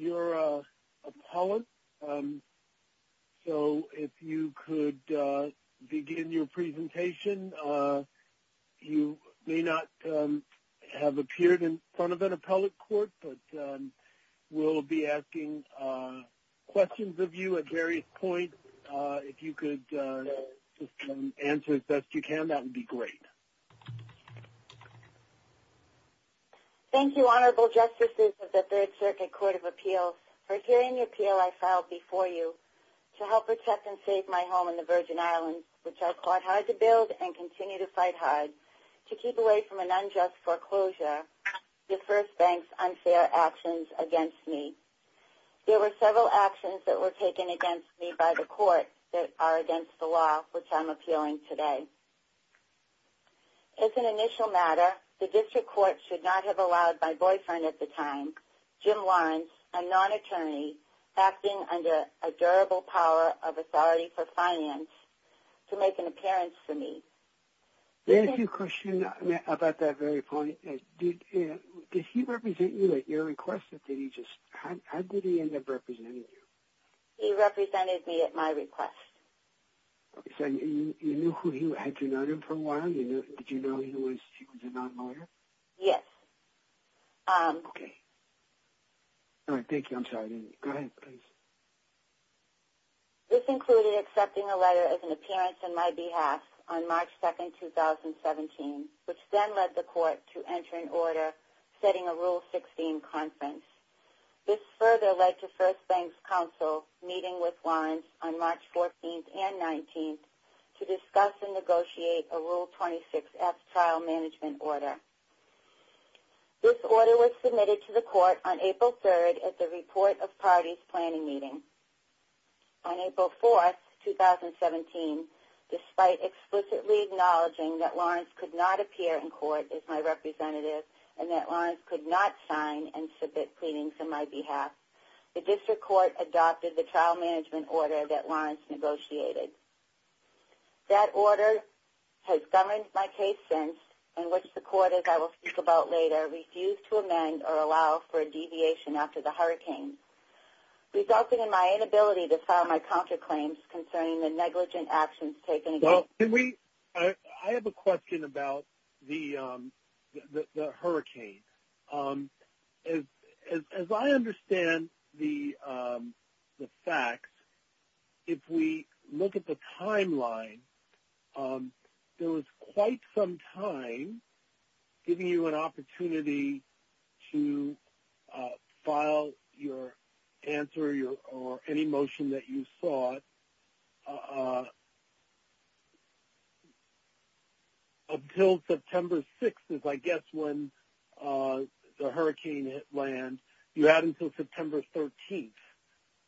You're an appellant, so if you could begin your presentation. You may not have appeared in front of an appellate court, but we'll be asking questions of you at various points. If you could answer as best you can, that would be great. Thank you, Honorable Justices of the Third Circuit Court of Appeals, for hearing the appeal I filed before you to help protect and save my home in the Virgin Islands, which I fought hard to build and continue to fight hard to keep away from an unjust foreclosure, the First Bank's unfair actions against me. There were several actions that were taken against me by the court that are against the law, which I'm appealing today. As an initial matter, the district court should not have allowed my boyfriend at the time, Jim Lawrence, a non-attorney, acting under a durable power of authority for finance, to make an appearance for me. There is a question about that very point. Did he represent you at your request? How did he end up representing you? He represented me at my request. You knew who he was? Had you known him for a while? Did you know he was a non-lawyer? Yes. Okay. All right, thank you. I'm sorry. Go ahead, please. This included accepting a letter as an appearance on my behalf on March 2, 2017, which then led the court to enter an order setting a Rule 16 conference. This further led to First Bank's counsel meeting with Lawrence on March 14 and 19 to discuss and negotiate a Rule 26F trial management order. This order was submitted to the court on April 3 at the report of parties planning meeting. On April 4, 2017, despite explicitly acknowledging that Lawrence could not appear in court as my representative and that Lawrence could not sign and submit pleadings on my behalf, the district court adopted the trial management order that Lawrence negotiated. That order has governed my case since, in which the court, as I will speak about later, refused to amend or allow for a deviation after the hurricane, resulting in my inability to file my counterclaims concerning the negligent actions taken against me. I have a question about the hurricane. As I understand the facts, if we look at the timeline, there was quite some time, giving you an opportunity to file your answer or any motion that you sought, until September 6, I guess, when the hurricane hit land. You're out until September 13.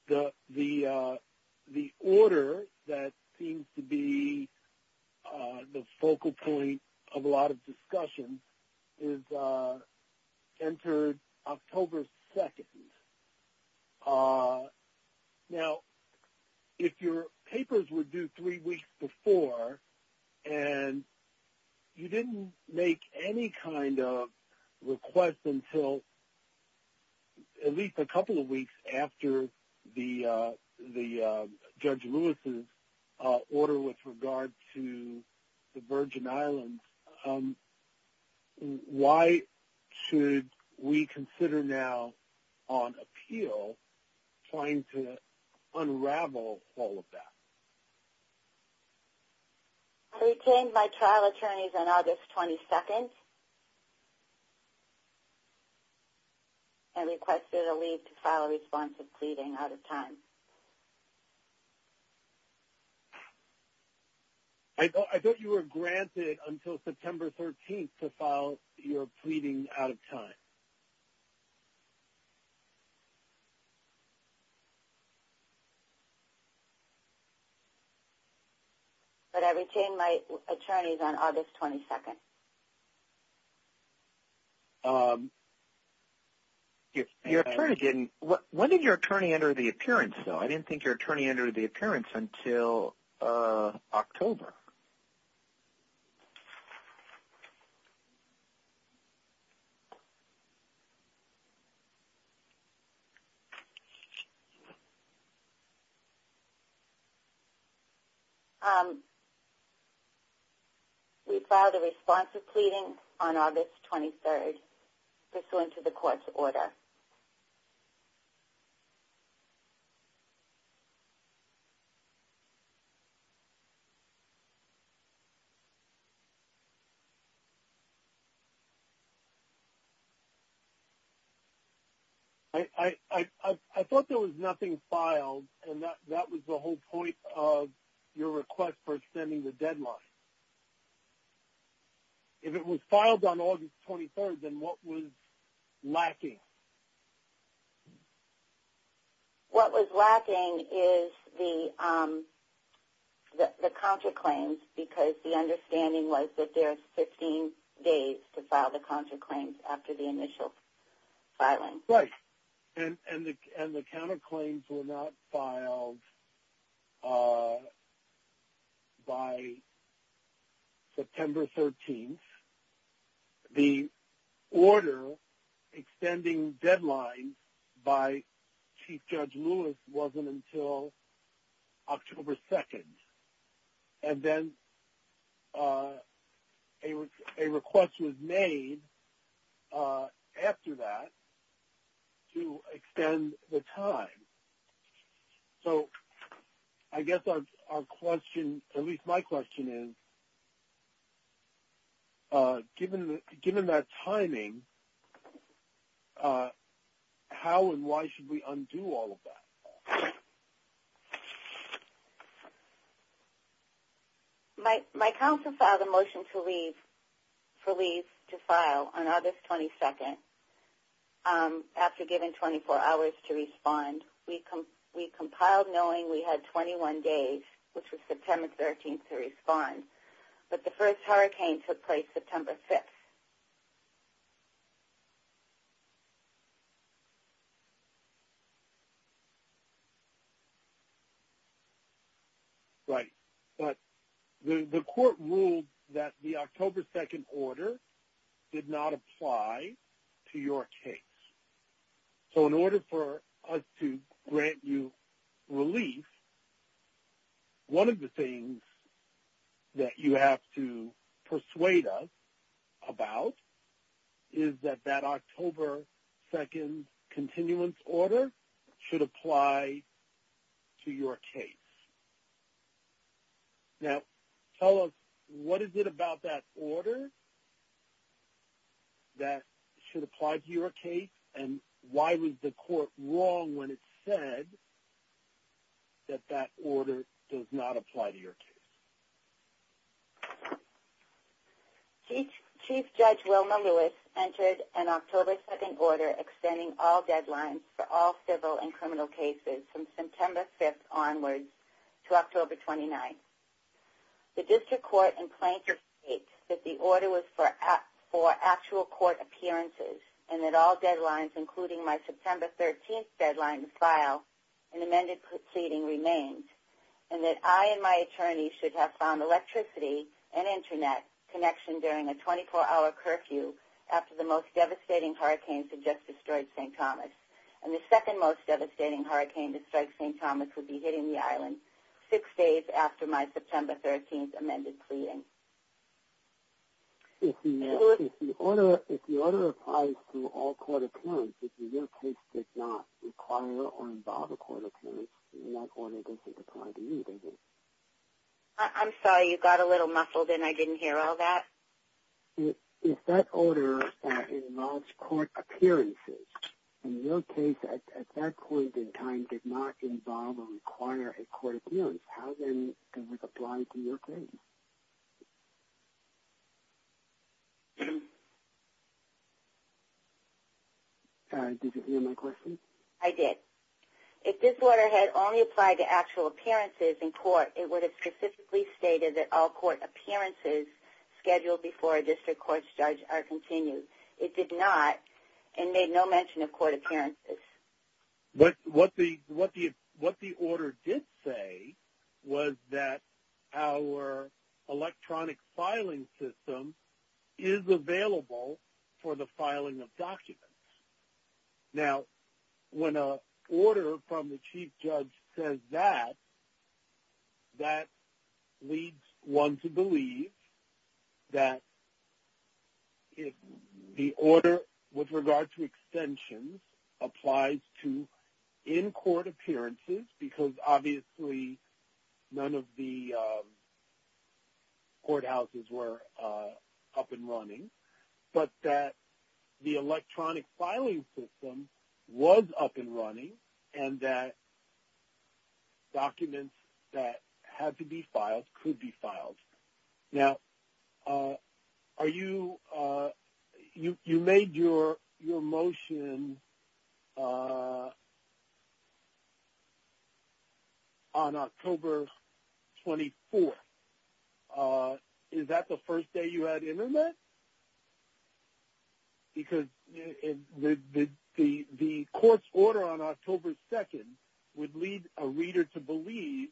The order that seems to be the focal point of a lot of discussion is entered October 2. Now, if your papers were due three weeks before and you didn't make any kind of request until at least a couple of weeks after Judge Lewis' order with regard to the Virgin Islands, why should we consider now, on appeal, trying to unravel all of that? I retained my trial attorneys on August 22 and requested a leave to file a response of pleading out of time. I thought you were granted until September 13 to file your pleading out of time. But I retained my attorneys on August 22. Okay. When did your attorney enter the appearance, though? I didn't think your attorney entered the appearance until October. We filed a response of pleading on August 23, pursuant to the court's order. Okay. I thought there was nothing filed, and that was the whole point of your request for extending the deadline. If it was filed on August 23, then what was lacking? What was lacking is the counterclaims, because the understanding was that there are 15 days to file the counterclaims after the initial filing. Right, and the counterclaims were not filed by September 13. The order extending deadlines by Chief Judge Lewis wasn't until October 2. And then a request was made after that to extend the time. So I guess our question, at least my question is, given that timing, how and why should we undo all of that? My counsel filed a motion for leave to file on August 22 after given 24 hours to respond. We compiled knowing we had 21 days, which was September 13, to respond. But the first hurricane took place September 6. Right, but the court ruled that the October 2 order did not apply to your case. So in order for us to grant you relief, one of the things that you have to persuade us about is that that October 2 continuance order should apply to your case. Now, tell us, what is it about that order that should apply to your case? And why was the court wrong when it said that that order does not apply to your case? Chief Judge Wilma Lewis entered an October 2 order extending all deadlines for all civil and criminal cases from September 5 onwards to October 29. The district court and plaintiff state that the order was for actual court appearances and that all deadlines, including my September 13 deadline to file, and amended pleading remained. And that I and my attorney should have found electricity and internet connection during a 24-hour curfew after the most devastating hurricane had just destroyed St. Thomas. And the second most devastating hurricane to strike St. Thomas would be hitting the island six days after my September 13 amended pleading. If the order applies to all court appearances, if your case did not require or involve a court appearance, then that order doesn't apply to you, does it? I'm sorry, you got a little muffled and I didn't hear all that. If that order involves court appearances, and your case at that point in time did not involve or require a court appearance, how then does it apply to your case? Did you hear my question? I did. If this order had only applied to actual appearances in court, it would have specifically stated that all court appearances scheduled before a district court's judge are continued. It did not and made no mention of court appearances. What the order did say was that our electronic filing system is available for the filing of documents. Now, when an order from the chief judge says that, that leads one to believe that if the order with regard to extensions applies to in-court appearances, because obviously none of the courthouses were up and running, but that the electronic filing system was up and running and that documents that had to be filed could be filed. Now, you made your motion on October 24th. Is that the first day you had Internet? Because the court's order on October 2nd would lead a reader to believe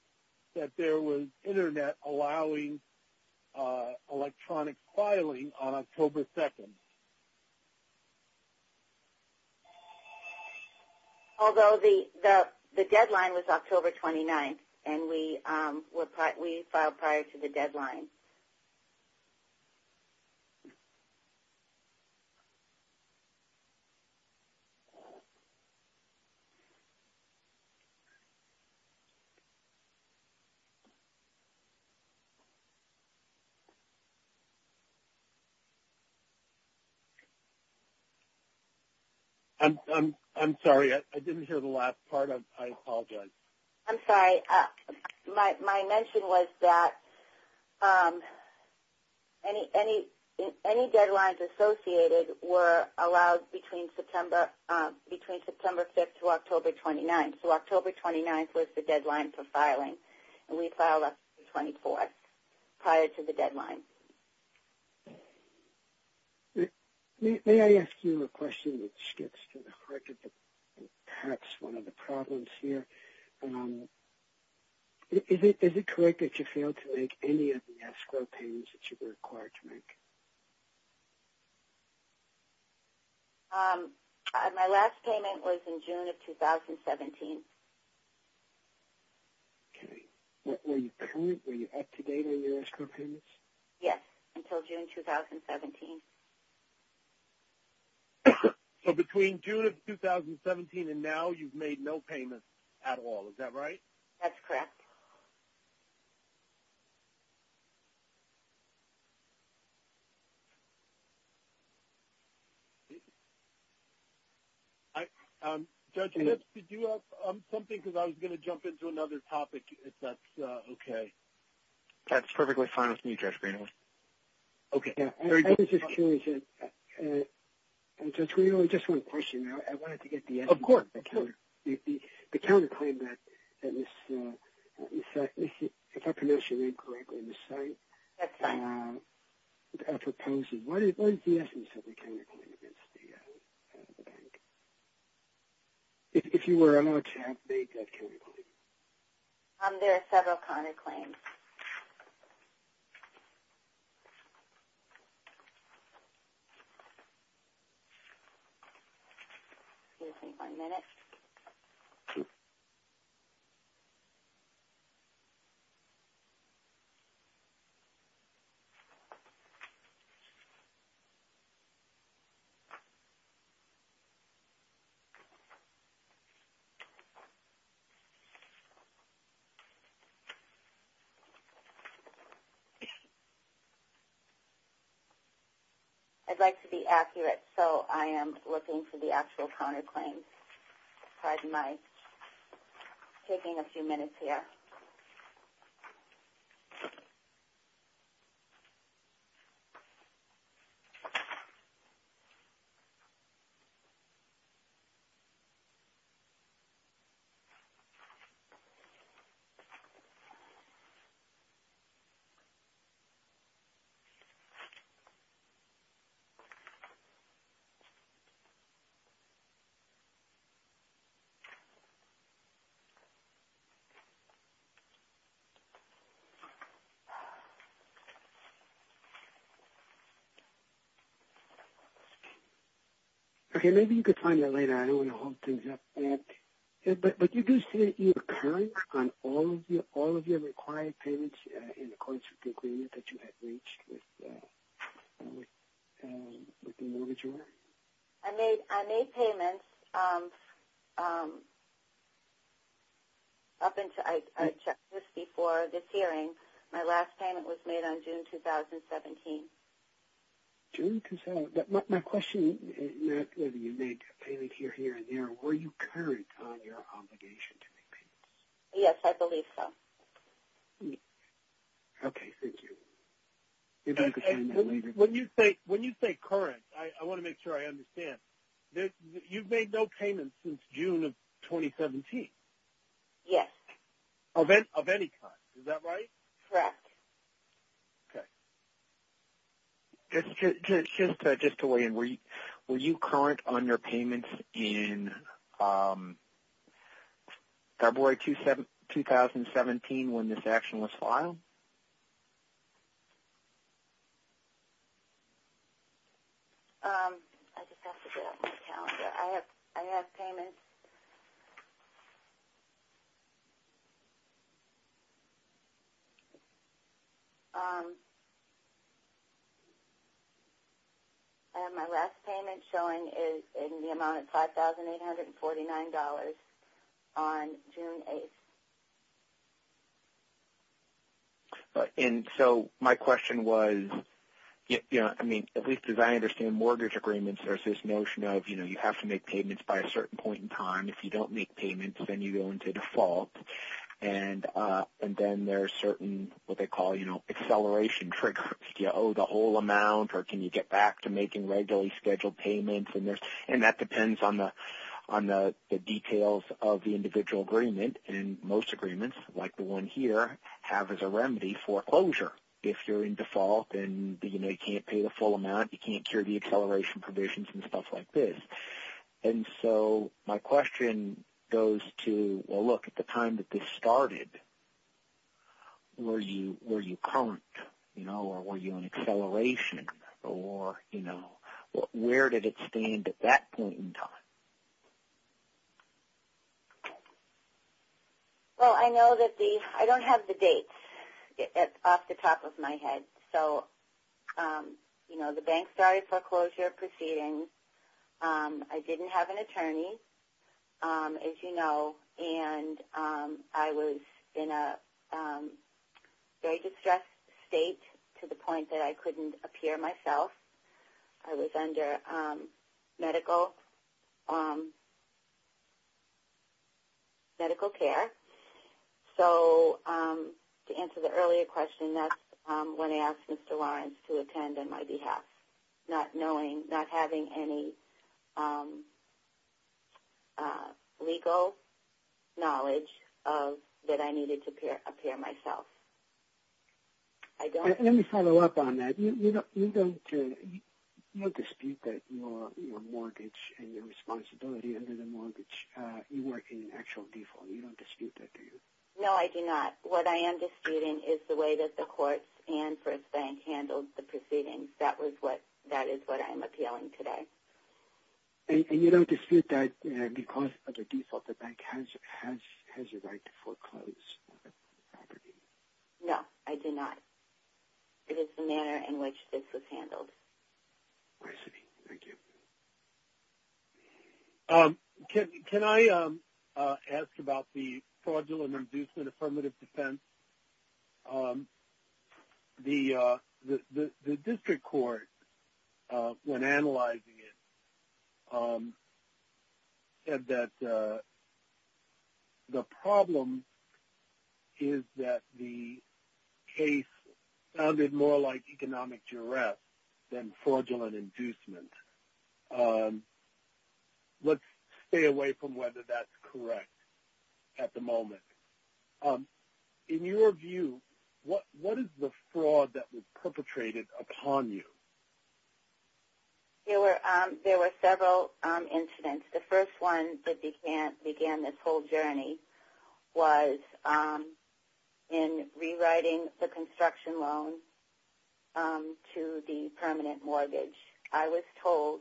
that there was Internet allowing electronic filing on October 2nd. Although the deadline was October 29th and we filed prior to the deadline. I'm sorry, I didn't hear the last part. I apologize. I'm sorry. My mention was that any deadlines associated were allowed between September 5th through October 29th. So October 29th was the deadline for filing and we filed October 24th prior to the deadline. May I ask you a question that skips to the heart of perhaps one of the problems here? Is it correct that you failed to make any of the escrow payments that you were required to make? My last payment was in June of 2017. Okay. Were you up to date on your escrow payments? Yes, until June 2017. So between June of 2017 and now you've made no payments at all, is that right? That's correct. Judge Lips, did you have something because I was going to jump into another topic if that's okay. That's perfectly fine with me, Judge Greenwood. Okay. I was just curious, Judge Greenwood, just one question. Of course. The counterclaim that was, if I pronounced your name correctly on the site. That's fine. Why is the essence of the counterclaim against the bank? If you were a non-champ, they got counterclaims. There are several counterclaims. Excuse me one minute. I'd like to be accurate so I am looking for the actual counterclaims. Pardon my taking a few minutes here. Okay, maybe you can find that later. I don't want to hold things up. But you do say that you are current on all of your required payments in accordance with the agreement that you had reached with the mortgager. I made payments up until I checked this before this hearing. My last payment was made on June 2017. June 2017. My question is not whether you made a payment here, here, or there. Were you current on your obligation to make payments? Yes, I believe so. Okay, thank you. When you say current, I want to make sure I understand. You've made no payments since June of 2017. Yes. Of any kind. Is that right? Correct. Okay. Just to weigh in, were you current on your payments in February 2017 when this action was filed? I just have to get out my calendar. I have payments. I have my last payment showing in the amount of $5,849 on June 8th. And so my question was, you know, I mean, at least as I understand mortgage agreements, there's this notion of, you know, you have to make payments by a certain point in time. If you don't make payments, then you go into default. And then there's certain, what they call, you know, acceleration triggers. Do you owe the whole amount or can you get back to making regularly scheduled payments? And that depends on the details of the individual agreement. And most agreements, like the one here, have as a remedy foreclosure. If you're in default and, you know, you can't pay the full amount, you can't cure the acceleration provisions and stuff like this. And so my question goes to, well, look, at the time that this started, were you current, you know, or were you on acceleration? Or, you know, where did it stand at that point in time? Well, I know that the – I don't have the dates off the top of my head. So, you know, the bank started foreclosure proceedings. I didn't have an attorney, as you know. And I was in a very distressed state to the point that I couldn't appear myself. I was under medical care. So to answer the earlier question, that's when I asked Mr. Lawrence to attend on my behalf. Not knowing, not having any legal knowledge that I needed to appear myself. Let me follow up on that. You don't dispute that your mortgage and your responsibility under the mortgage, you work in actual default. You don't dispute that, do you? No, I do not. What I am disputing is the way that the courts and First Bank handled the proceedings. That is what I am appealing today. And you don't dispute that because of the default, the bank has a right to foreclose the property? No, I do not. It is the manner in which this was handled. I see. Thank you. Can I ask about the Fraudulent Reducement Affirmative Defense? The district court, when analyzing it, said that the problem is that the case sounded more like economic duress than fraudulent inducement. Let's stay away from whether that's correct at the moment. In your view, what is the fraud that was perpetrated upon you? There were several incidents. The first one that began this whole journey was in rewriting the construction loan to the permanent mortgage. I was told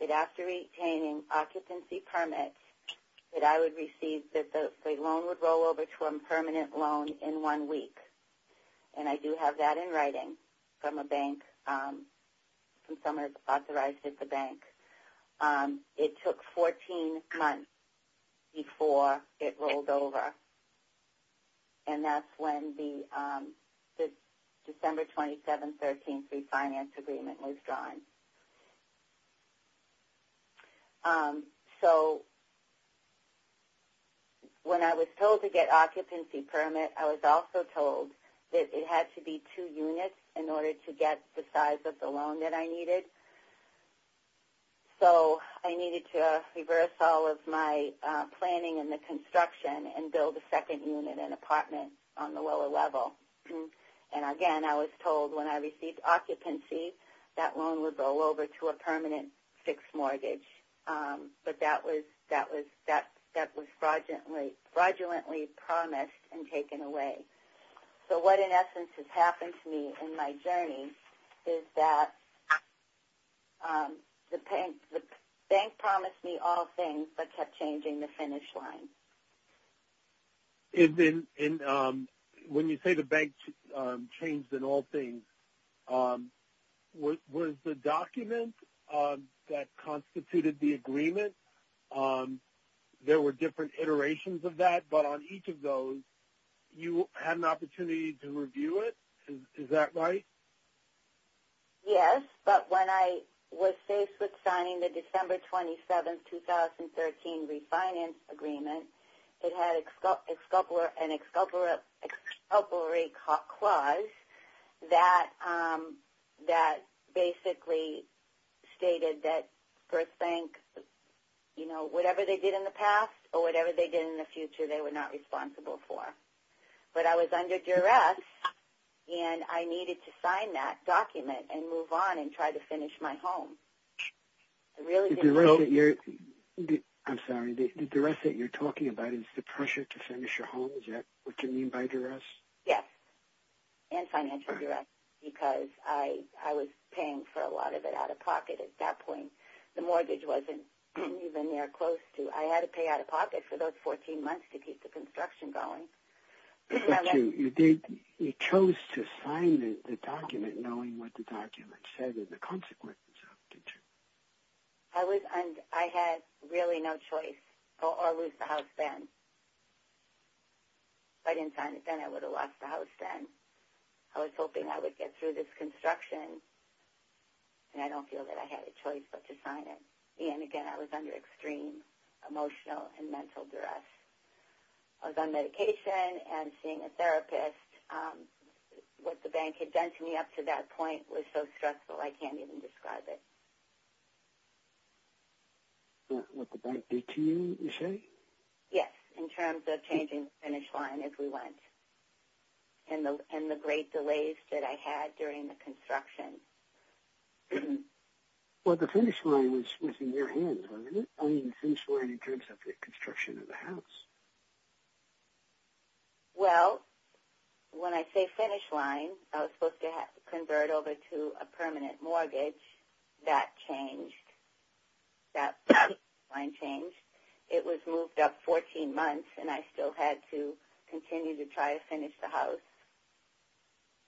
that after retaining occupancy permits that I would receive that the loan would roll over to a permanent loan in one week. And I do have that in writing from a bank, from someone authorized at the bank. It took 14 months before it rolled over. And that's when the December 27-13 refinance agreement was drawn. So when I was told to get an occupancy permit, I was also told that it had to be two units in order to get the size of the loan that I needed. So I needed to reverse all of my planning in the construction and build a second unit, an apartment, on the lower level. And again, I was told when I received occupancy, that loan would roll over to a permanent fixed mortgage. But that was fraudulently promised and taken away. So what in essence has happened to me in my journey is that the bank promised me all things but kept changing the finish line. And when you say the bank changed in all things, was the document that constituted the agreement, there were different iterations of that? But on each of those, you had an opportunity to review it? Is that right? Yes, but when I was faced with signing the December 27, 2013 refinance agreement, it had an exculpatory clause that basically stated that First Bank, you know, whatever they did in the past or whatever they did in the future, they were not responsible for. But I was under duress and I needed to sign that document and move on and try to finish my home. I'm sorry, the duress that you're talking about is the pressure to finish your home? Is that what you mean by duress? Yes, and financial duress, because I was paying for a lot of it out of pocket at that point. The mortgage wasn't even near close to. I had to pay out of pocket for those 14 months to keep the construction going. But you chose to sign the document knowing what the document said and the consequences of it, did you? I had really no choice or lose the house then. If I didn't sign it then, I would have lost the house then. I was hoping I would get through this construction and I don't feel that I had a choice but to sign it. And again, I was under extreme emotional and mental duress. I was on medication and seeing a therapist. What the bank had done to me up to that point was so stressful I can't even describe it. What the bank did to you, you say? Yes, in terms of changing the finish line as we went and the great delays that I had during the construction. Well, the finish line was in your hands, wasn't it? I mean the finish line in terms of the construction of the house. Well, when I say finish line, I was supposed to convert over to a permanent mortgage. That changed. That line changed. It was moved up 14 months and I still had to continue to try to finish the house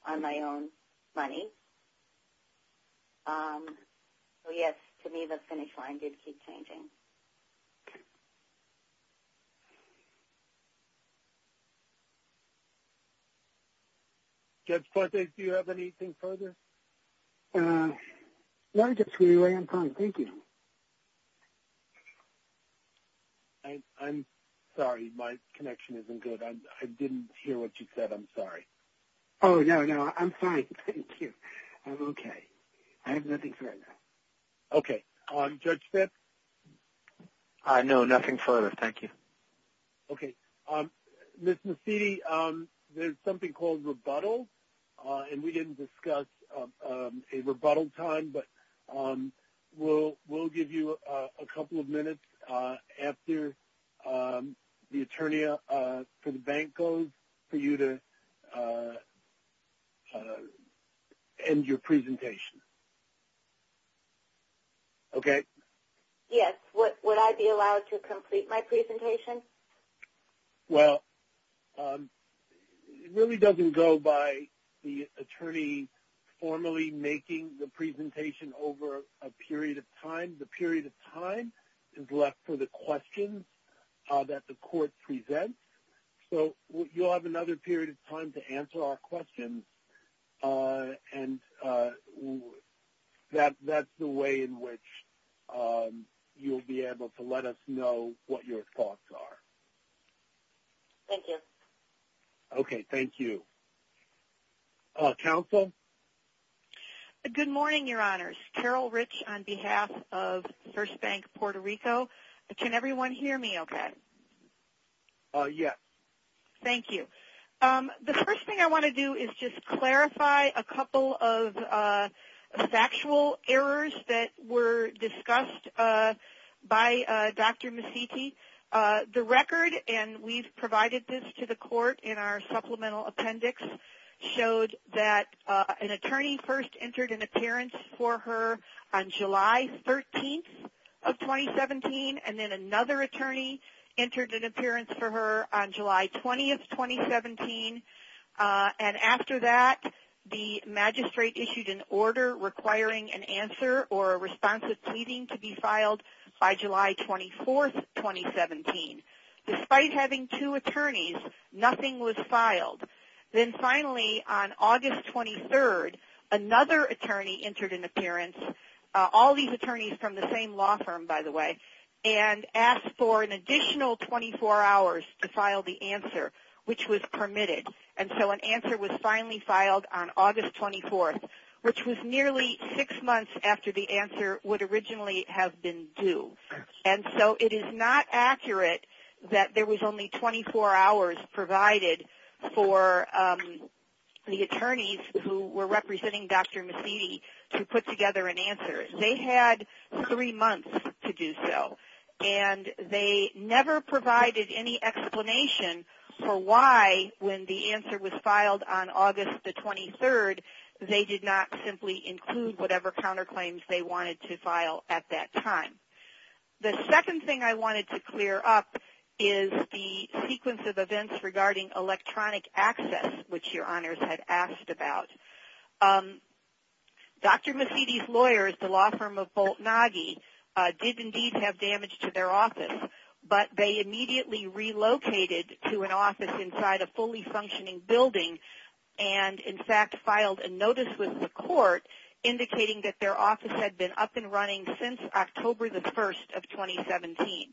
on my own money. So yes, to me the finish line did keep changing. Judge Cortes, do you have anything further? No, I'm fine. Thank you. I'm sorry. My connection isn't good. I didn't hear what you said. I'm sorry. Oh, no, no. I'm fine. Thank you. I'm okay. I have nothing further. Okay. Judge Phipps? No, nothing further. Thank you. Okay. Ms. Massidi, there's something called rebuttal and we didn't discuss a rebuttal time. But we'll give you a couple of minutes after the attorney for the bank goes for you to end your presentation. Okay? Yes. Would I be allowed to complete my presentation? Well, it really doesn't go by the attorney formally making the presentation over a period of time. The period of time is left for the questions that the court presents. So you'll have another period of time to answer our questions and that's the way in which you'll be able to let us know what your thoughts are. Thank you. Okay. Thank you. Counsel? Good morning, Your Honors. Carol Rich on behalf of First Bank Puerto Rico. Can everyone hear me okay? Yes. Thank you. The first thing I want to do is just clarify a couple of factual errors that were discussed by Dr. Massidi. The record, and we've provided this to the court in our supplemental appendix, showed that an attorney first entered an appearance for her on July 13th of 2017 and then another attorney entered an appearance for her on July 20th, 2017. And after that, the magistrate issued an order requiring an answer or a responsive pleading to be filed by July 24th, 2017. Despite having two attorneys, nothing was filed. Then finally, on August 23rd, another attorney entered an appearance, all these attorneys from the same law firm, by the way, and asked for an additional 24 hours to file the answer, which was permitted. And so an answer was finally filed on August 24th, which was nearly six months after the answer would originally have been due. And so it is not accurate that there was only 24 hours provided for the attorneys who were representing Dr. Massidi to put together an answer. They had three months to do so. And they never provided any explanation for why, when the answer was filed on August 23rd, they did not simply include whatever counterclaims they wanted to file at that time. The second thing I wanted to clear up is the sequence of events regarding electronic access, which Your Honors had asked about. Dr. Massidi's lawyers, the law firm of Boltnage, did indeed have damage to their office, but they immediately relocated to an office inside a fully functioning building and, in fact, filed a notice with the court indicating that their office had been up and running since October the 1st of 2017.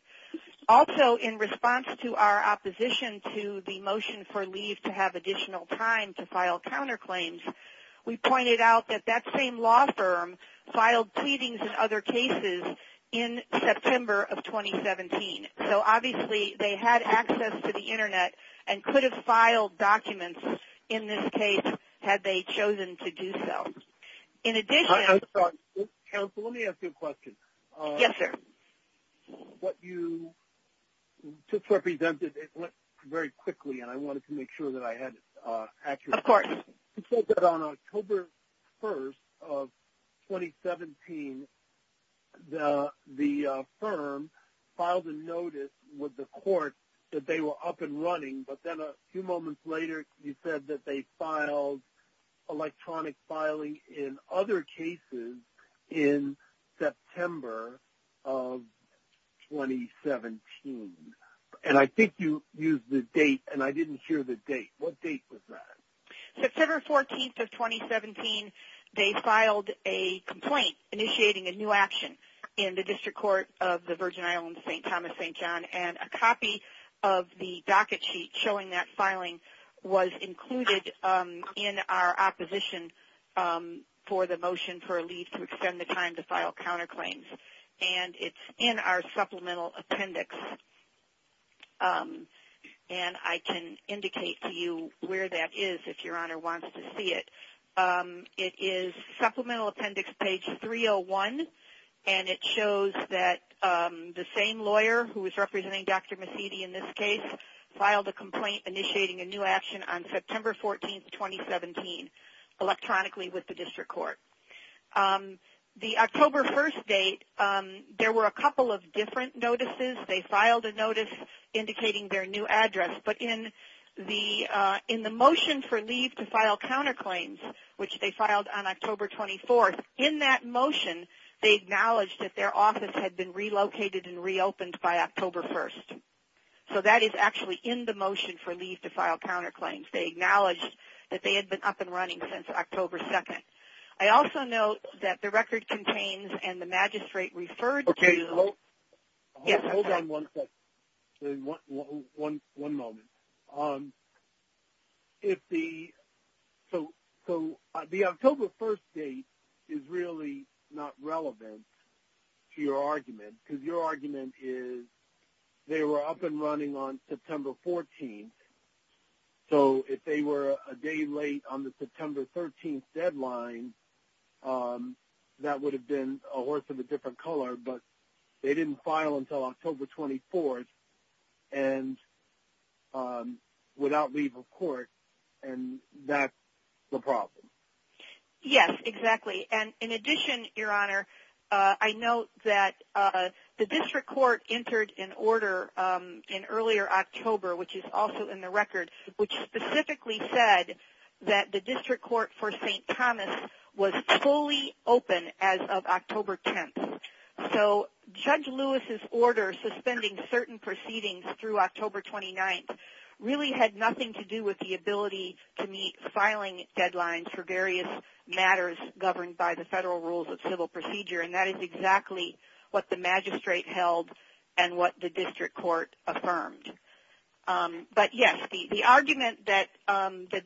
Also, in response to our opposition to the motion for leave to have additional time to file counterclaims, we pointed out that that same law firm filed pleadings in other cases in September of 2017. So, obviously, they had access to the Internet and could have filed documents in this case had they chosen to do so. Counsel, let me ask you a question. Yes, sir. What you just represented, it went very quickly, and I wanted to make sure that I had it accurate. Of course. You said that on October 1st of 2017, the firm filed a notice with the court that they were up and running, but then a few moments later, you said that they filed electronic filing in other cases in September of 2017. And I think you used the date, and I didn't hear the date. What date was that? September 14th of 2017, they filed a complaint initiating a new action in the District Court of the Virgin Islands, St. Thomas, St. John, and a copy of the docket sheet showing that filing was included in our opposition for the motion for leave to extend the time to file counterclaims. And it's in our supplemental appendix, and I can indicate to you where that is if Your Honor wants to see it. It is supplemental appendix page 301, and it shows that the same lawyer who is representing Dr. Massidi in this case filed a complaint initiating a new action on September 14th, 2017, electronically with the District Court. The October 1st date, there were a couple of different notices. They filed a notice indicating their new address. But in the motion for leave to file counterclaims, which they filed on October 24th, in that motion, they acknowledged that their office had been relocated and reopened by October 1st. So that is actually in the motion for leave to file counterclaims. They acknowledged that they had been up and running since October 2nd. I also note that the record contains and the magistrate referred to Hold on one second. One moment. So the October 1st date is really not relevant to your argument, because your argument is they were up and running on September 14th. So if they were a day late on the September 13th deadline, that would have been a horse of a different color. But they didn't file until October 24th and without leave of court. And that's the problem. Yes, exactly. And in addition, Your Honor, I note that the District Court entered an order in earlier October, which is also in the record, which specifically said that the District Court for St. Thomas was fully open as of October 10th. And so Judge Lewis's order suspending certain proceedings through October 29th really had nothing to do with the ability to meet filing deadlines for various matters governed by the Federal Rules of Civil Procedure. And that is exactly what the magistrate held and what the District Court affirmed. But yes, the argument that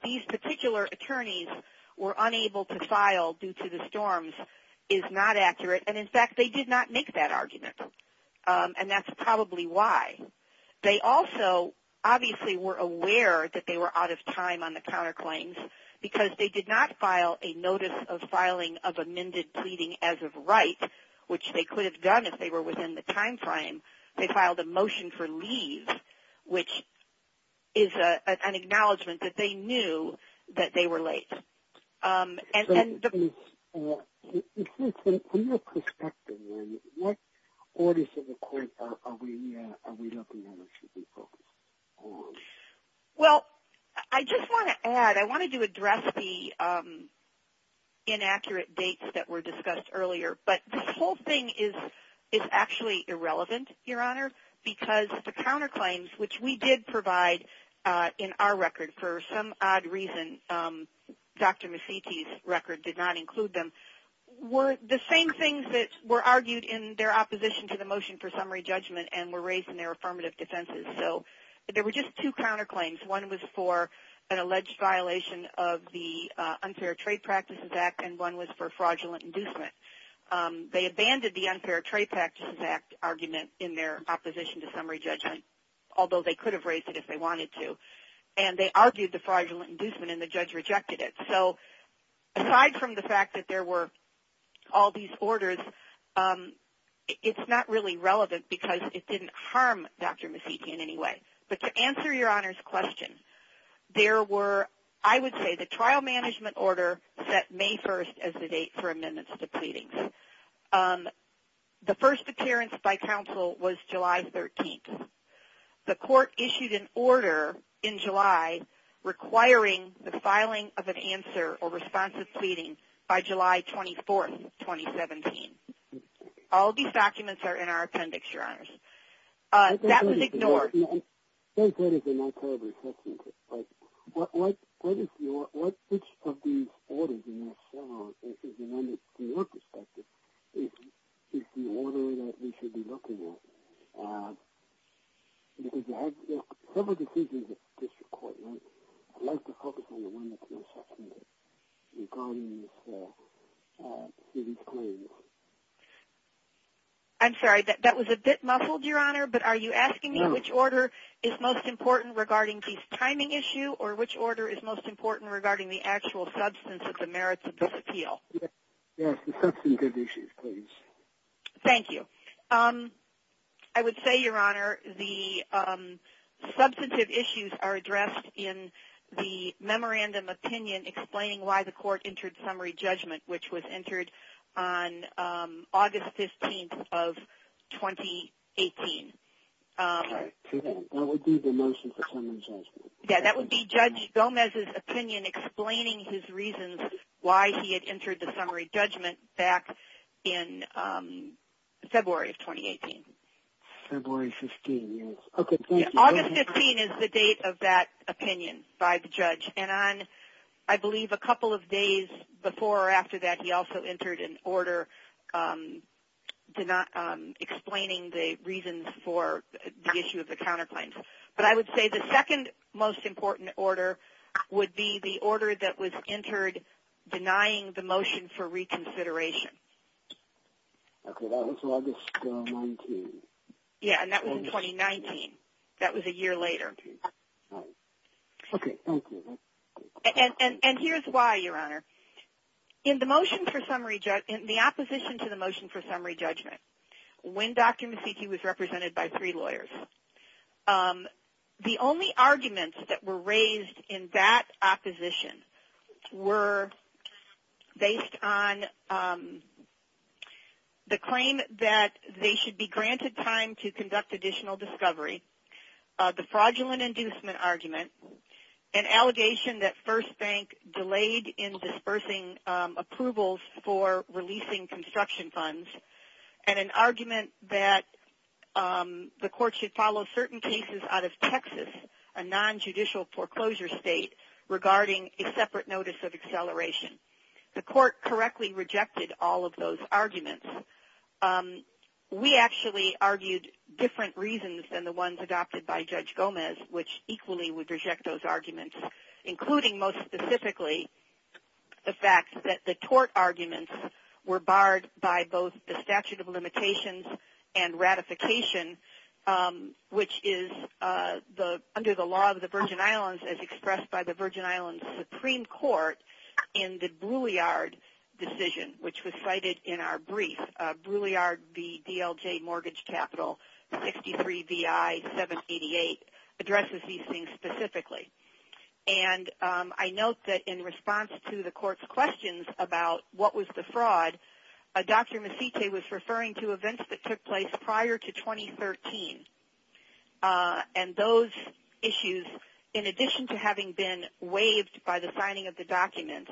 these particular attorneys were unable to file due to the storms is not accurate. And in fact, they did not make that argument. And that's probably why. They also obviously were aware that they were out of time on the counterclaims, because they did not file a notice of filing of amended pleading as of right, which they could have done if they were within the time frame. They filed a motion for leave, which is an acknowledgment that they knew that they were late. So from your perspective, what orders in the court are we looking at or should we focus on? Well, I just want to add, I wanted to address the inaccurate dates that were discussed earlier. But this whole thing is actually irrelevant, Your Honor, because the counterclaims, which we did provide in our record for some odd reason, Dr. Mecitti's record did not include them, were the same things that were argued in their opposition to the motion for summary judgment and were raised in their affirmative defenses. So there were just two counterclaims. One was for an alleged violation of the Unfair Trade Practices Act and one was for fraudulent inducement. They abandoned the Unfair Trade Practices Act argument in their opposition to summary judgment, although they could have raised it if they wanted to. And they argued the fraudulent inducement and the judge rejected it. So aside from the fact that there were all these orders, it's not really relevant because it didn't harm Dr. Mecitti in any way. But to answer Your Honor's question, there were, I would say, the trial management order set May 1st as the date for amendments to pleadings. The first appearance by counsel was July 13th. The court issued an order in July requiring the filing of an answer or responsive pleading by July 24th, 2017. All these documents are in our appendix, Your Honors. That was ignored. They said it's a not terrible assessment, but what is your – which of these orders in this case, from your perspective, is the order that we should be looking at? Because you had several decisions at the district court, right? I'd like to focus on the one that's the assessment regarding these claims. I'm sorry. That was a bit muffled, Your Honor. But are you asking me which order is most important regarding this timing issue or which order is most important regarding the actual substance of the merits of this appeal? Yes, the substantive issues, please. Thank you. I would say, Your Honor, the substantive issues are addressed in the memorandum opinion explaining why the court entered summary judgment, which was entered on August 15th of 2018. Okay. That would be the motion for summary judgment. Yeah, that would be Judge Gomez's opinion explaining his reasons why he had entered the summary judgment back in February of 2018. February 15th, yes. Okay, thank you. August 15th is the date of that opinion by the judge. And on, I believe, a couple of days before or after that, he also entered an order explaining the reasons for the issue of the counterclaims. But I would say the second most important order would be the order that was entered denying the motion for reconsideration. Okay, that was August 19th. Yeah, and that was in 2019. That was a year later. Okay, thank you. And here's why, Your Honor. In the motion for summary judgment, in the opposition to the motion for summary judgment, when Dr. Masitti was represented by three lawyers, the only arguments that were raised in that opposition were based on the claim that they should be granted time to conduct additional discovery, the fraudulent inducement argument, an allegation that First Bank delayed in dispersing approvals for releasing construction funds, and an argument that the court should follow certain cases out of Texas, a nonjudicial foreclosure state, regarding a separate notice of acceleration. The court correctly rejected all of those arguments. We actually argued different reasons than the ones adopted by Judge Gomez, which equally would reject those arguments, including most specifically the fact that the tort arguments were barred by both the statute of limitations and ratification, which is under the law of the Virgin Islands, as expressed by the Virgin Islands Supreme Court in the Brouillard decision, which was cited in our brief, Brouillard v. DLJ Mortgage Capital, 63 VI 788, addresses these things specifically. And I note that in response to the court's questions about what was the fraud, Dr. Masitti was referring to events that took place prior to 2013. And those issues, in addition to having been waived by the signing of the documents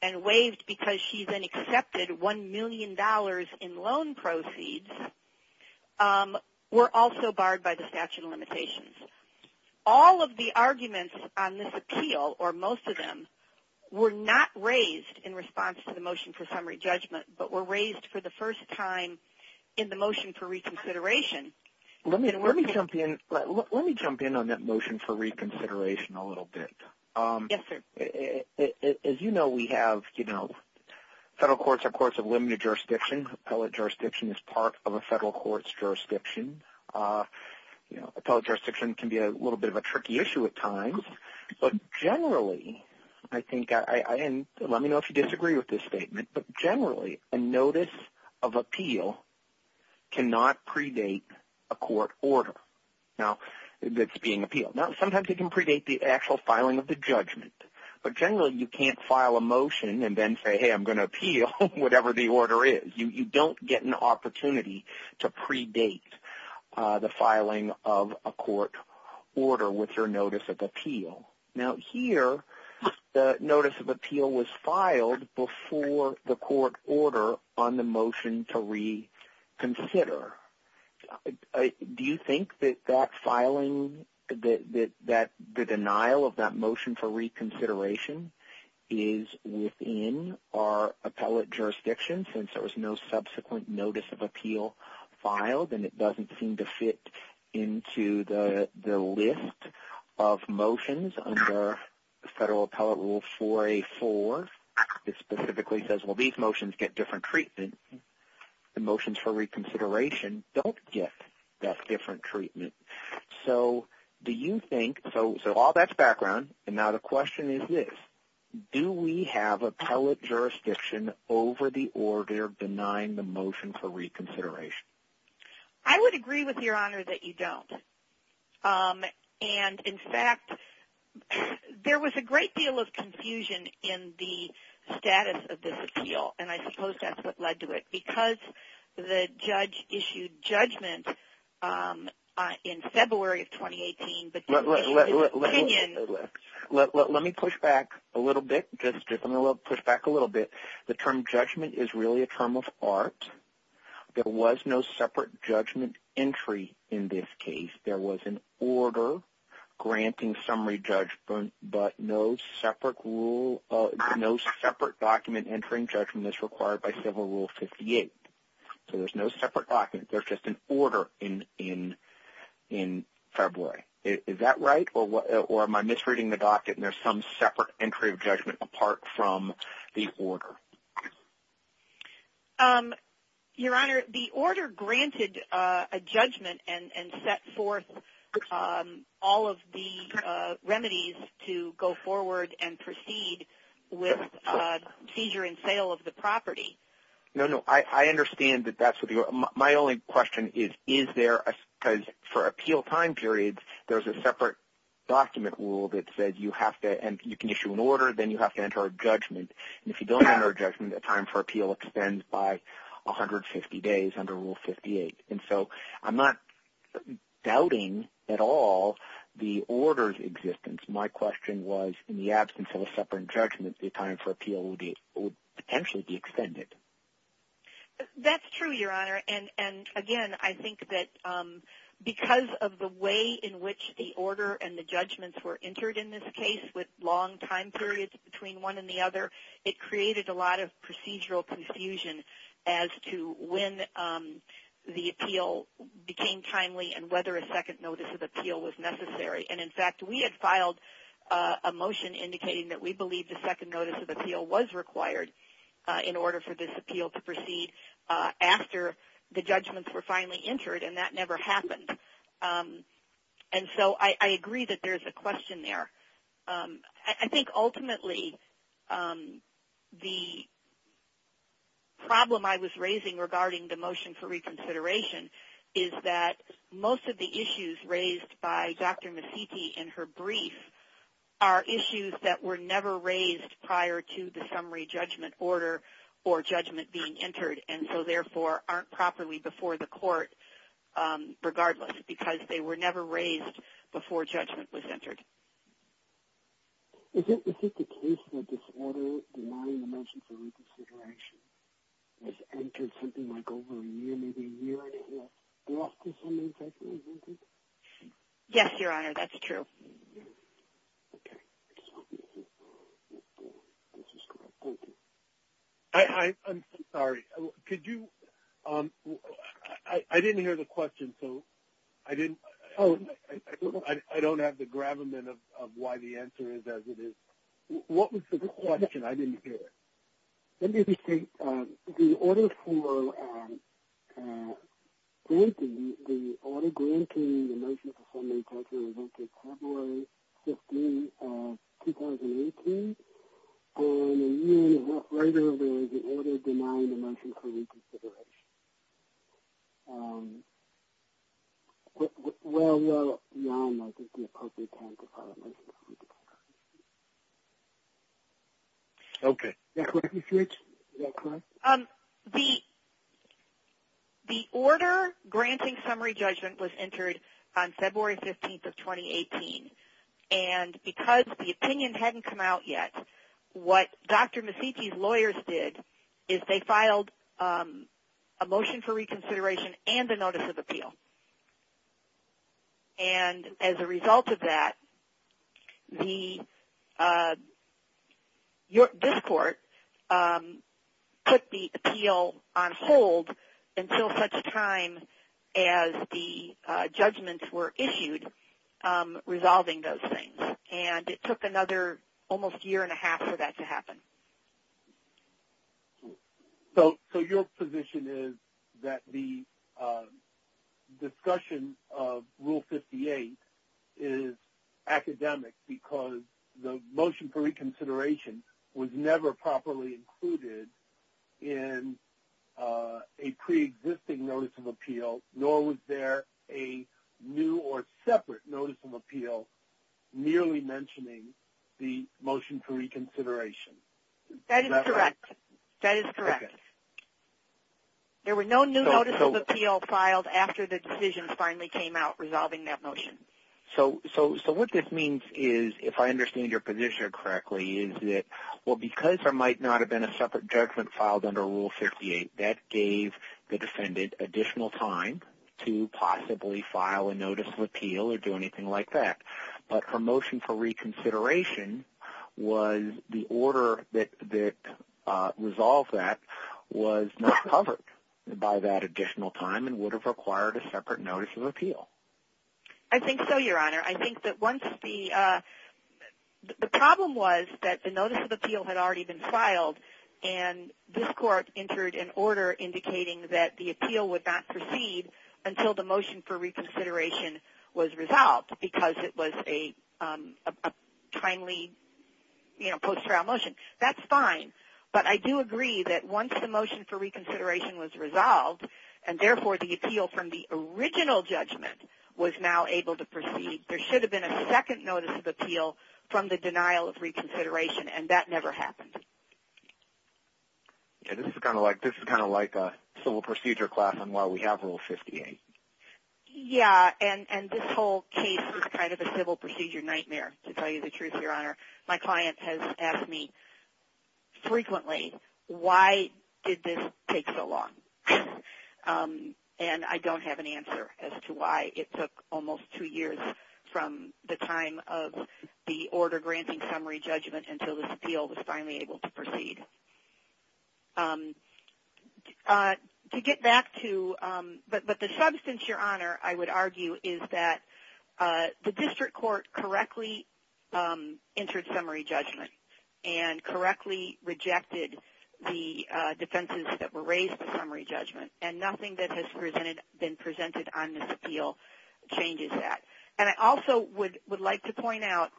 and waived because she then accepted $1 million in loan proceeds, were also barred by the statute of limitations. All of the arguments on this appeal, or most of them, were not raised in response to the motion for summary judgment, but were raised for the first time in the motion for reconsideration. Let me jump in on that motion for reconsideration a little bit. Yes, sir. As you know, we have federal courts are courts of limited jurisdiction. Appellate jurisdiction is part of a federal court's jurisdiction. Appellate jurisdiction can be a little bit of a tricky issue at times. But generally, I think, and let me know if you disagree with this statement, but generally a notice of appeal cannot predate a court order that's being appealed. Now, sometimes it can predate the actual filing of the judgment, but generally you can't file a motion and then say, hey, I'm going to appeal, whatever the order is. You don't get an opportunity to predate the filing of a court order with your notice of appeal. Now, here the notice of appeal was filed before the court order on the motion to reconsider. Do you think that that filing, that the denial of that motion for reconsideration, is within our appellate jurisdiction since there was no subsequent notice of appeal filed and it doesn't seem to fit into the list of motions under the federal appellate rule 4A4 that specifically says, well, these motions get different treatment. The motions for reconsideration don't get that different treatment. So do you think, so all that's background, and now the question is this, do we have appellate jurisdiction over the order denying the motion for reconsideration? I would agree with Your Honor that you don't. And, in fact, there was a great deal of confusion in the status of this appeal, and I suppose that's what led to it because the judge issued judgment in February of 2018. Let me push back a little bit. The term judgment is really a term of art. There was no separate judgment entry in this case. There was an order granting summary judgment, but no separate document entering judgment as required by Civil Rule 58. So there's no separate document. There's just an order in February. Is that right, or am I misreading the docket and there's some separate entry of judgment apart from the order? Your Honor, the order granted a judgment and set forth all of the remedies to go forward and proceed with seizure and sale of the property. No, no. I understand that that's what you're – my only question is, is there – because for appeal time periods, there's a separate document rule that says you have to – and you can issue an order, then you have to enter a judgment. And if you don't enter a judgment, the time for appeal extends by 150 days under Rule 58. And so I'm not doubting at all the order's existence. My question was in the absence of a separate judgment, the time for appeal would potentially be extended. That's true, Your Honor. And again, I think that because of the way in which the order and the judgments were entered in this case with long time periods between one and the other, it created a lot of procedural confusion as to when the appeal became timely and whether a second notice of appeal was necessary. And, in fact, we had filed a motion indicating that we believe the second notice of appeal was required in order for this appeal to proceed after the judgments were finally entered, and that never happened. And so I agree that there's a question there. I think ultimately the problem I was raising regarding the motion for reconsideration is that most of the issues raised by Dr. Masitti in her brief are issues that were never raised prior to the summary judgment order or judgment being entered, and so therefore aren't properly before the court regardless, because they were never raised before judgment was entered. Is it the case that this order denying the motion for reconsideration was entered something like over a year, maybe a year and a half after the summary judgment was entered? Yes, Your Honor, that's true. Okay. So this is correct. Thank you. I'm sorry. Could you – I didn't hear the question, so I didn't – Oh. I don't have the gravamen of why the answer is as it is. What was the question? I didn't hear it. Let me repeat. The order for granting the order granting the motion for summary judgment was entered February 15, 2018, and a year and a half later there was an order denying the motion for reconsideration. Well, Your Honor, I don't think the appropriate time to file a motion for reconsideration. Okay. Is that correct, Ms. Hewitt? Is that correct? The order granting summary judgment was entered on February 15th of 2018, and because the opinion hadn't come out yet, what Dr. Masicki's lawyers did is they filed a motion for reconsideration and a notice of appeal. And as a result of that, this court put the appeal on hold until such time as the judgments were issued, resolving those things. And it took another almost year and a half for that to happen. So your position is that the discussion of Rule 58 is academic because the motion for reconsideration was never properly included in a preexisting notice of appeal, nor was there a new or separate notice of appeal nearly mentioning the motion for reconsideration. That is correct. That is correct. There were no new notices of appeal filed after the decision finally came out resolving that motion. So what this means is, if I understand your position correctly, is that because there might not have been a separate judgment filed under Rule 58, that gave the defendant additional time to possibly file a notice of appeal or do anything like that. But her motion for reconsideration was the order that resolved that was not covered by that additional time and would have required a separate notice of appeal. I think so, Your Honor. I think that once the problem was that the notice of appeal had already been filed and this Court entered an order indicating that the appeal would not proceed until the motion for reconsideration was resolved because it was a timely post-trial motion. That's fine. But I do agree that once the motion for reconsideration was resolved and therefore the appeal from the original judgment was now able to proceed, there should have been a second notice of appeal from the denial of reconsideration, and that never happened. This is kind of like a civil procedure class on why we have Rule 58. Yeah, and this whole case is kind of a civil procedure nightmare, to tell you the truth, Your Honor. My client has asked me frequently, why did this take so long? And I don't have an answer as to why. It took almost two years from the time of the order granting summary judgment until this appeal was finally able to proceed. But the substance, Your Honor, I would argue, is that the District Court correctly entered summary judgment and correctly rejected the defenses that were raised for summary judgment, and nothing that has been presented on this appeal changes that. And I also would like to point out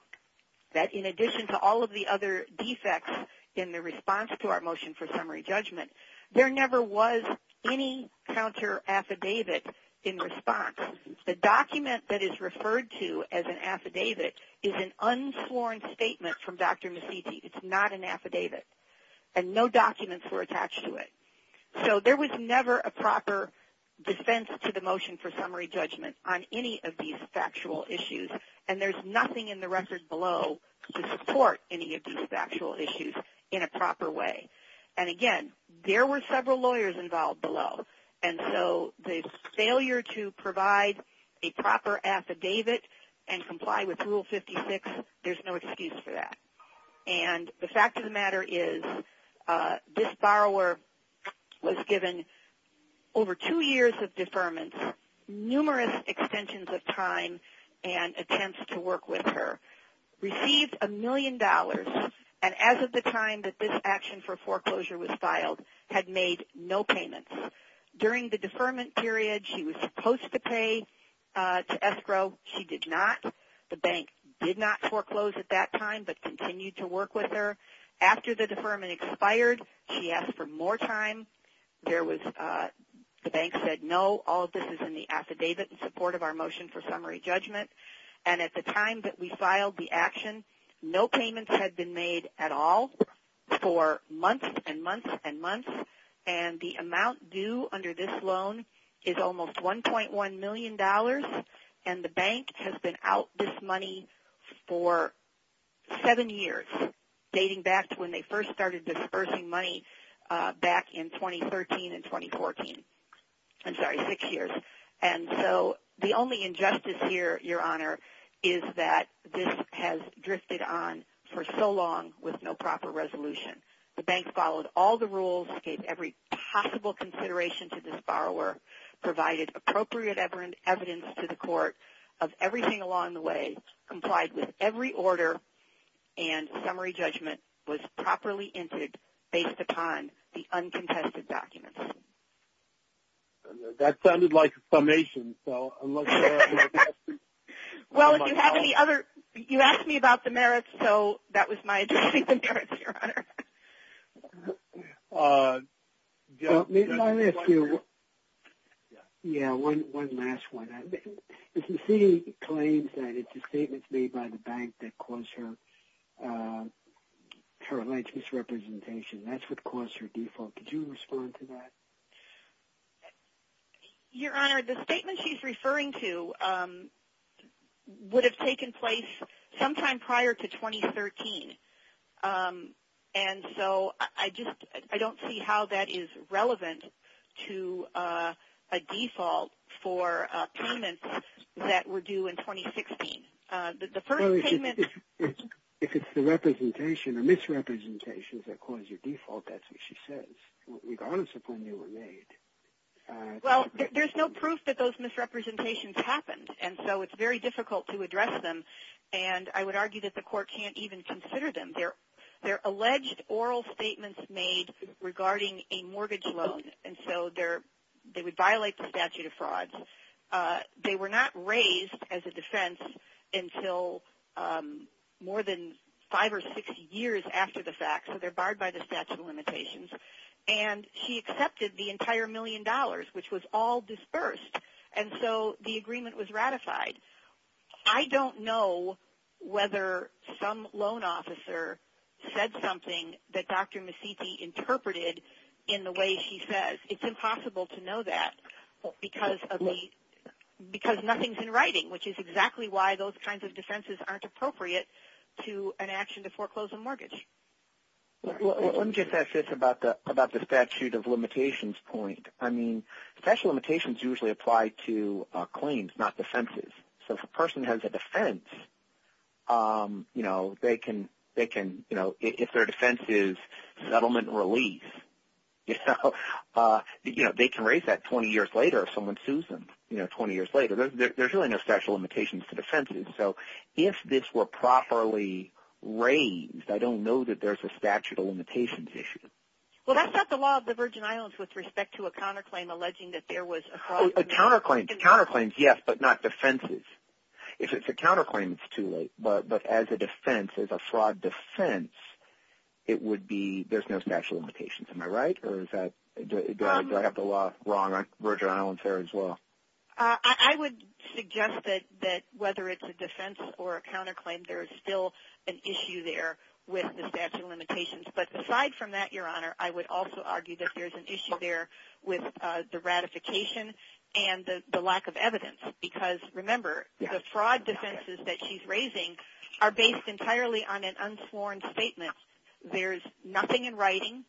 that in addition to all of the other defects in the response to our motion for summary judgment, there never was any counter-affidavit in response. The document that is referred to as an affidavit is an unsworn statement from Dr. Messiti. It's not an affidavit, and no documents were attached to it. So there was never a proper defense to the motion for summary judgment on any of these factual issues, and there's nothing in the record below to support any of these factual issues in a proper way. And again, there were several lawyers involved below, and so the failure to provide a proper affidavit and comply with Rule 56, there's no excuse for that. And the fact of the matter is this borrower was given over two years of deferments, numerous extensions of time and attempts to work with her, received a million dollars, and as of the time that this action for foreclosure was filed, had made no payments. During the deferment period, she was supposed to pay to escrow. She did not. The bank did not foreclose at that time but continued to work with her. After the deferment expired, she asked for more time. The bank said no, all of this is in the affidavit in support of our motion for summary judgment. And at the time that we filed the action, no payments had been made at all for months and months and months, and the amount due under this loan is almost $1.1 million, and the bank has been out this money for seven years, dating back to when they first started disbursing money back in 2013 and 2014. I'm sorry, six years. And so the only injustice here, Your Honor, is that this has drifted on for so long with no proper resolution. The bank followed all the rules, gave every possible consideration to this borrower, provided appropriate evidence to the court of everything along the way, complied with every order, and summary judgment was properly entered based upon the uncontested documents. That sounded like a summation. Well, if you have any other ñ you asked me about the merits, so that was my addressing the merits, Your Honor. Let me ask you, yeah, one last one. Mrs. C claims that it's the statements made by the bank that caused her alleged misrepresentation. That's what caused her default. Could you respond to that? Your Honor, the statement she's referring to would have taken place sometime prior to 2013, and so I don't see how that is relevant to a default for payments that were due in 2016. The first payment ñ Well, if it's the representation or misrepresentations that cause your default, that's what she says, regardless of when they were made. Well, there's no proof that those misrepresentations happened, and so it's very difficult to address them, and I would argue that the court can't even consider them. They're alleged oral statements made regarding a mortgage loan, and so they would violate the statute of frauds. They were not raised as a defense until more than five or six years after the fact, so they're barred by the statute of limitations, and she accepted the entire million dollars, which was all disbursed, and so the agreement was ratified. I don't know whether some loan officer said something that Dr. Masitti interpreted in the way she says. It's impossible to know that because nothing's in writing, which is exactly why those kinds of defenses aren't appropriate to an action to foreclose a mortgage. Let me just ask this about the statute of limitations point. Statute of limitations usually apply to claims, not defenses. So if a person has a defense, if their defense is settlement and release, they can raise that 20 years later if someone sues them, 20 years later. There's really no statute of limitations for defenses. So if this were properly raised, I don't know that there's a statute of limitations issue. Well, that's not the law of the Virgin Islands with respect to a counterclaim alleging that there was a fraud. Counterclaims, yes, but not defenses. If it's a counterclaim, it's too late. But as a defense, as a fraud defense, it would be there's no statute of limitations. Am I right, or do I have the law wrong on the Virgin Islands there as well? I would suggest that whether it's a defense or a counterclaim, there is still an issue there with the statute of limitations. But aside from that, Your Honor, I would also argue that there's an issue there with the ratification and the lack of evidence. Because, remember, the fraud defenses that she's raising are based entirely on an unsworn statement. There's nothing in writing.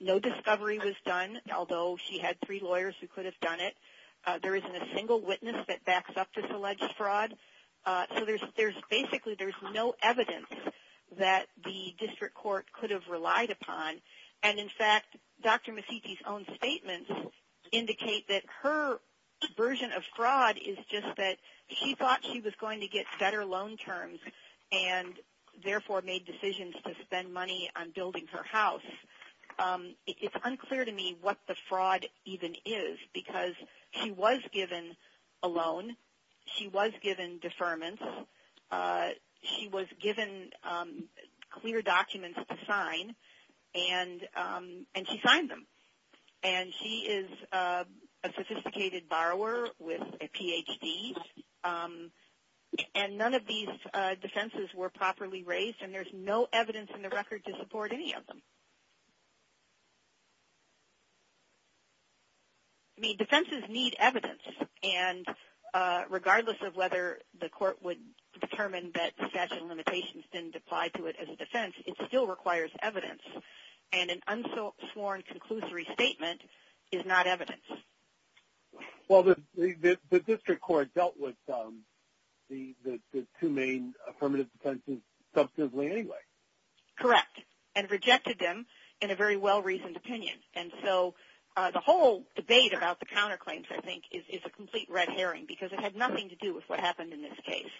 No discovery was done, although she had three lawyers who could have done it. There isn't a single witness that backs up this alleged fraud. So basically there's no evidence that the district court could have relied upon. And, in fact, Dr. Masicki's own statements indicate that her version of fraud is just that she thought she was going to get better loan terms and therefore made decisions to spend money on building her house. It's unclear to me what the fraud even is because she was given a loan. She was given deferments. She was given clear documents to sign, and she signed them. And she is a sophisticated borrower with a Ph.D., and none of these defenses were properly raised, and there's no evidence in the record to support any of them. I mean, defenses need evidence, and regardless of whether the court would determine that statute of limitations didn't apply to it as a defense, it still requires evidence, and an unsworn conclusory statement is not evidence. Well, the district court dealt with the two main affirmative defenses substantively anyway. Correct. And rejected them in a very well-reasoned opinion, and so the whole debate about the counterclaims, I think, is a complete red herring because it had nothing to do with what happened in this case.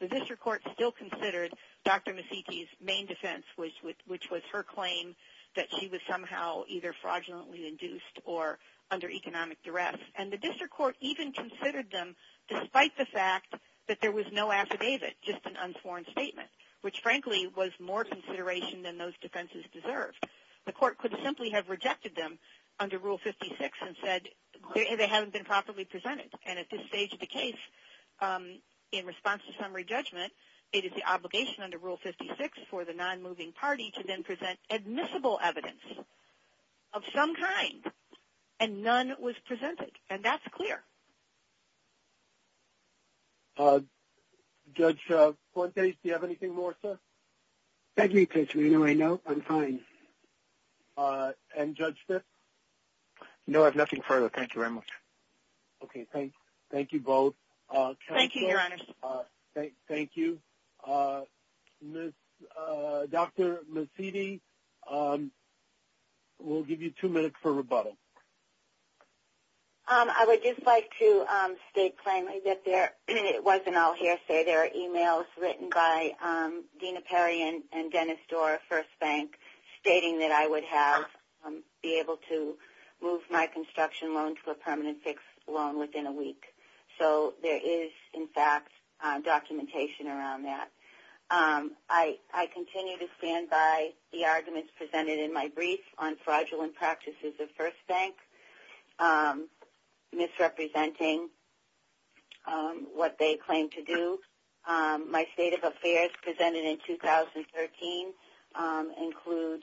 The district court still considered Dr. Masicki's main defense, which was her claim that she was somehow either fraudulently induced or under economic duress, and the district court even considered them despite the fact that there was no affidavit, just an unsworn statement, which, frankly, was more consideration than those defenses deserved. The court could simply have rejected them under Rule 56 and said they haven't been properly presented, and at this stage of the case, in response to summary judgment, it is the obligation under Rule 56 for the nonmoving party to then present admissible evidence of some kind, and none was presented, and that's clear. Thank you. Judge Fuentes, do you have anything more, sir? Thank you, Judge Reno. I know. I'm fine. And Judge Stitt? No, I have nothing further. Thank you very much. Okay. Thank you both. Thank you, Your Honors. Thank you. Dr. Masidi, we'll give you two minutes for rebuttal. I would just like to state plainly that it wasn't all hearsay. There are e-mails written by Dena Perry and Dennis Dorr of First Bank stating that I would have, be able to move my construction loan to a permanent fixed loan within a week. So there is, in fact, documentation around that. I continue to stand by the arguments presented in my brief on fraudulent practices of First Bank, misrepresenting what they claim to do. My state of affairs presented in 2013 include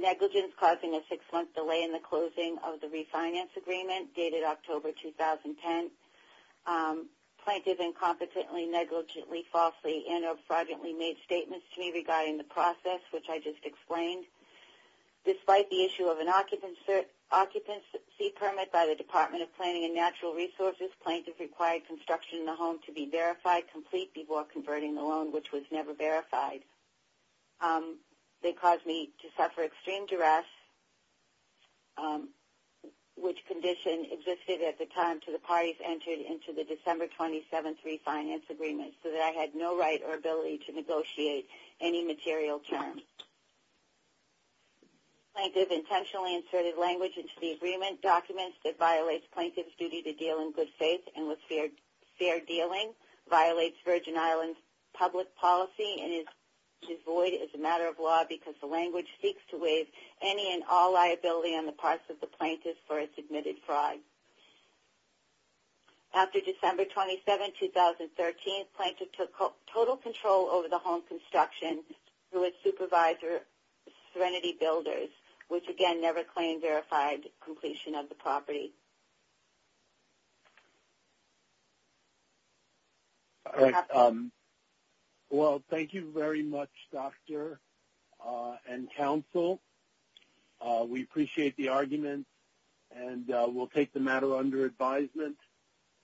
negligence causing a six-month delay in the closing of the refinance agreement dated October 2010, plaintiff incompetently, negligently, falsely, and or fraudulently made statements to me regarding the process, which I just explained. Despite the issue of an occupancy permit by the Department of Planning and Natural Resources, plaintiff required construction in the home to be verified complete before converting the loan, which was never verified. They caused me to suffer extreme duress, which condition existed at the time until the parties entered into the December 27th refinance agreement so that I had no right or ability to negotiate any material terms. Plaintiff intentionally inserted language into the agreement documents that violates plaintiff's duty to deal in good faith and with fair dealing, violates Virgin Islands public policy, and is devoid as a matter of law because the language seeks to waive any and all liability on the parts of the plaintiff for its admitted fraud. After December 27, 2013, plaintiff took total control over the home construction through its supervisor, Serenity Builders, which again never claimed verified completion of the property. Thank you very much, doctor and counsel. We appreciate the argument and we'll take the matter under advisement.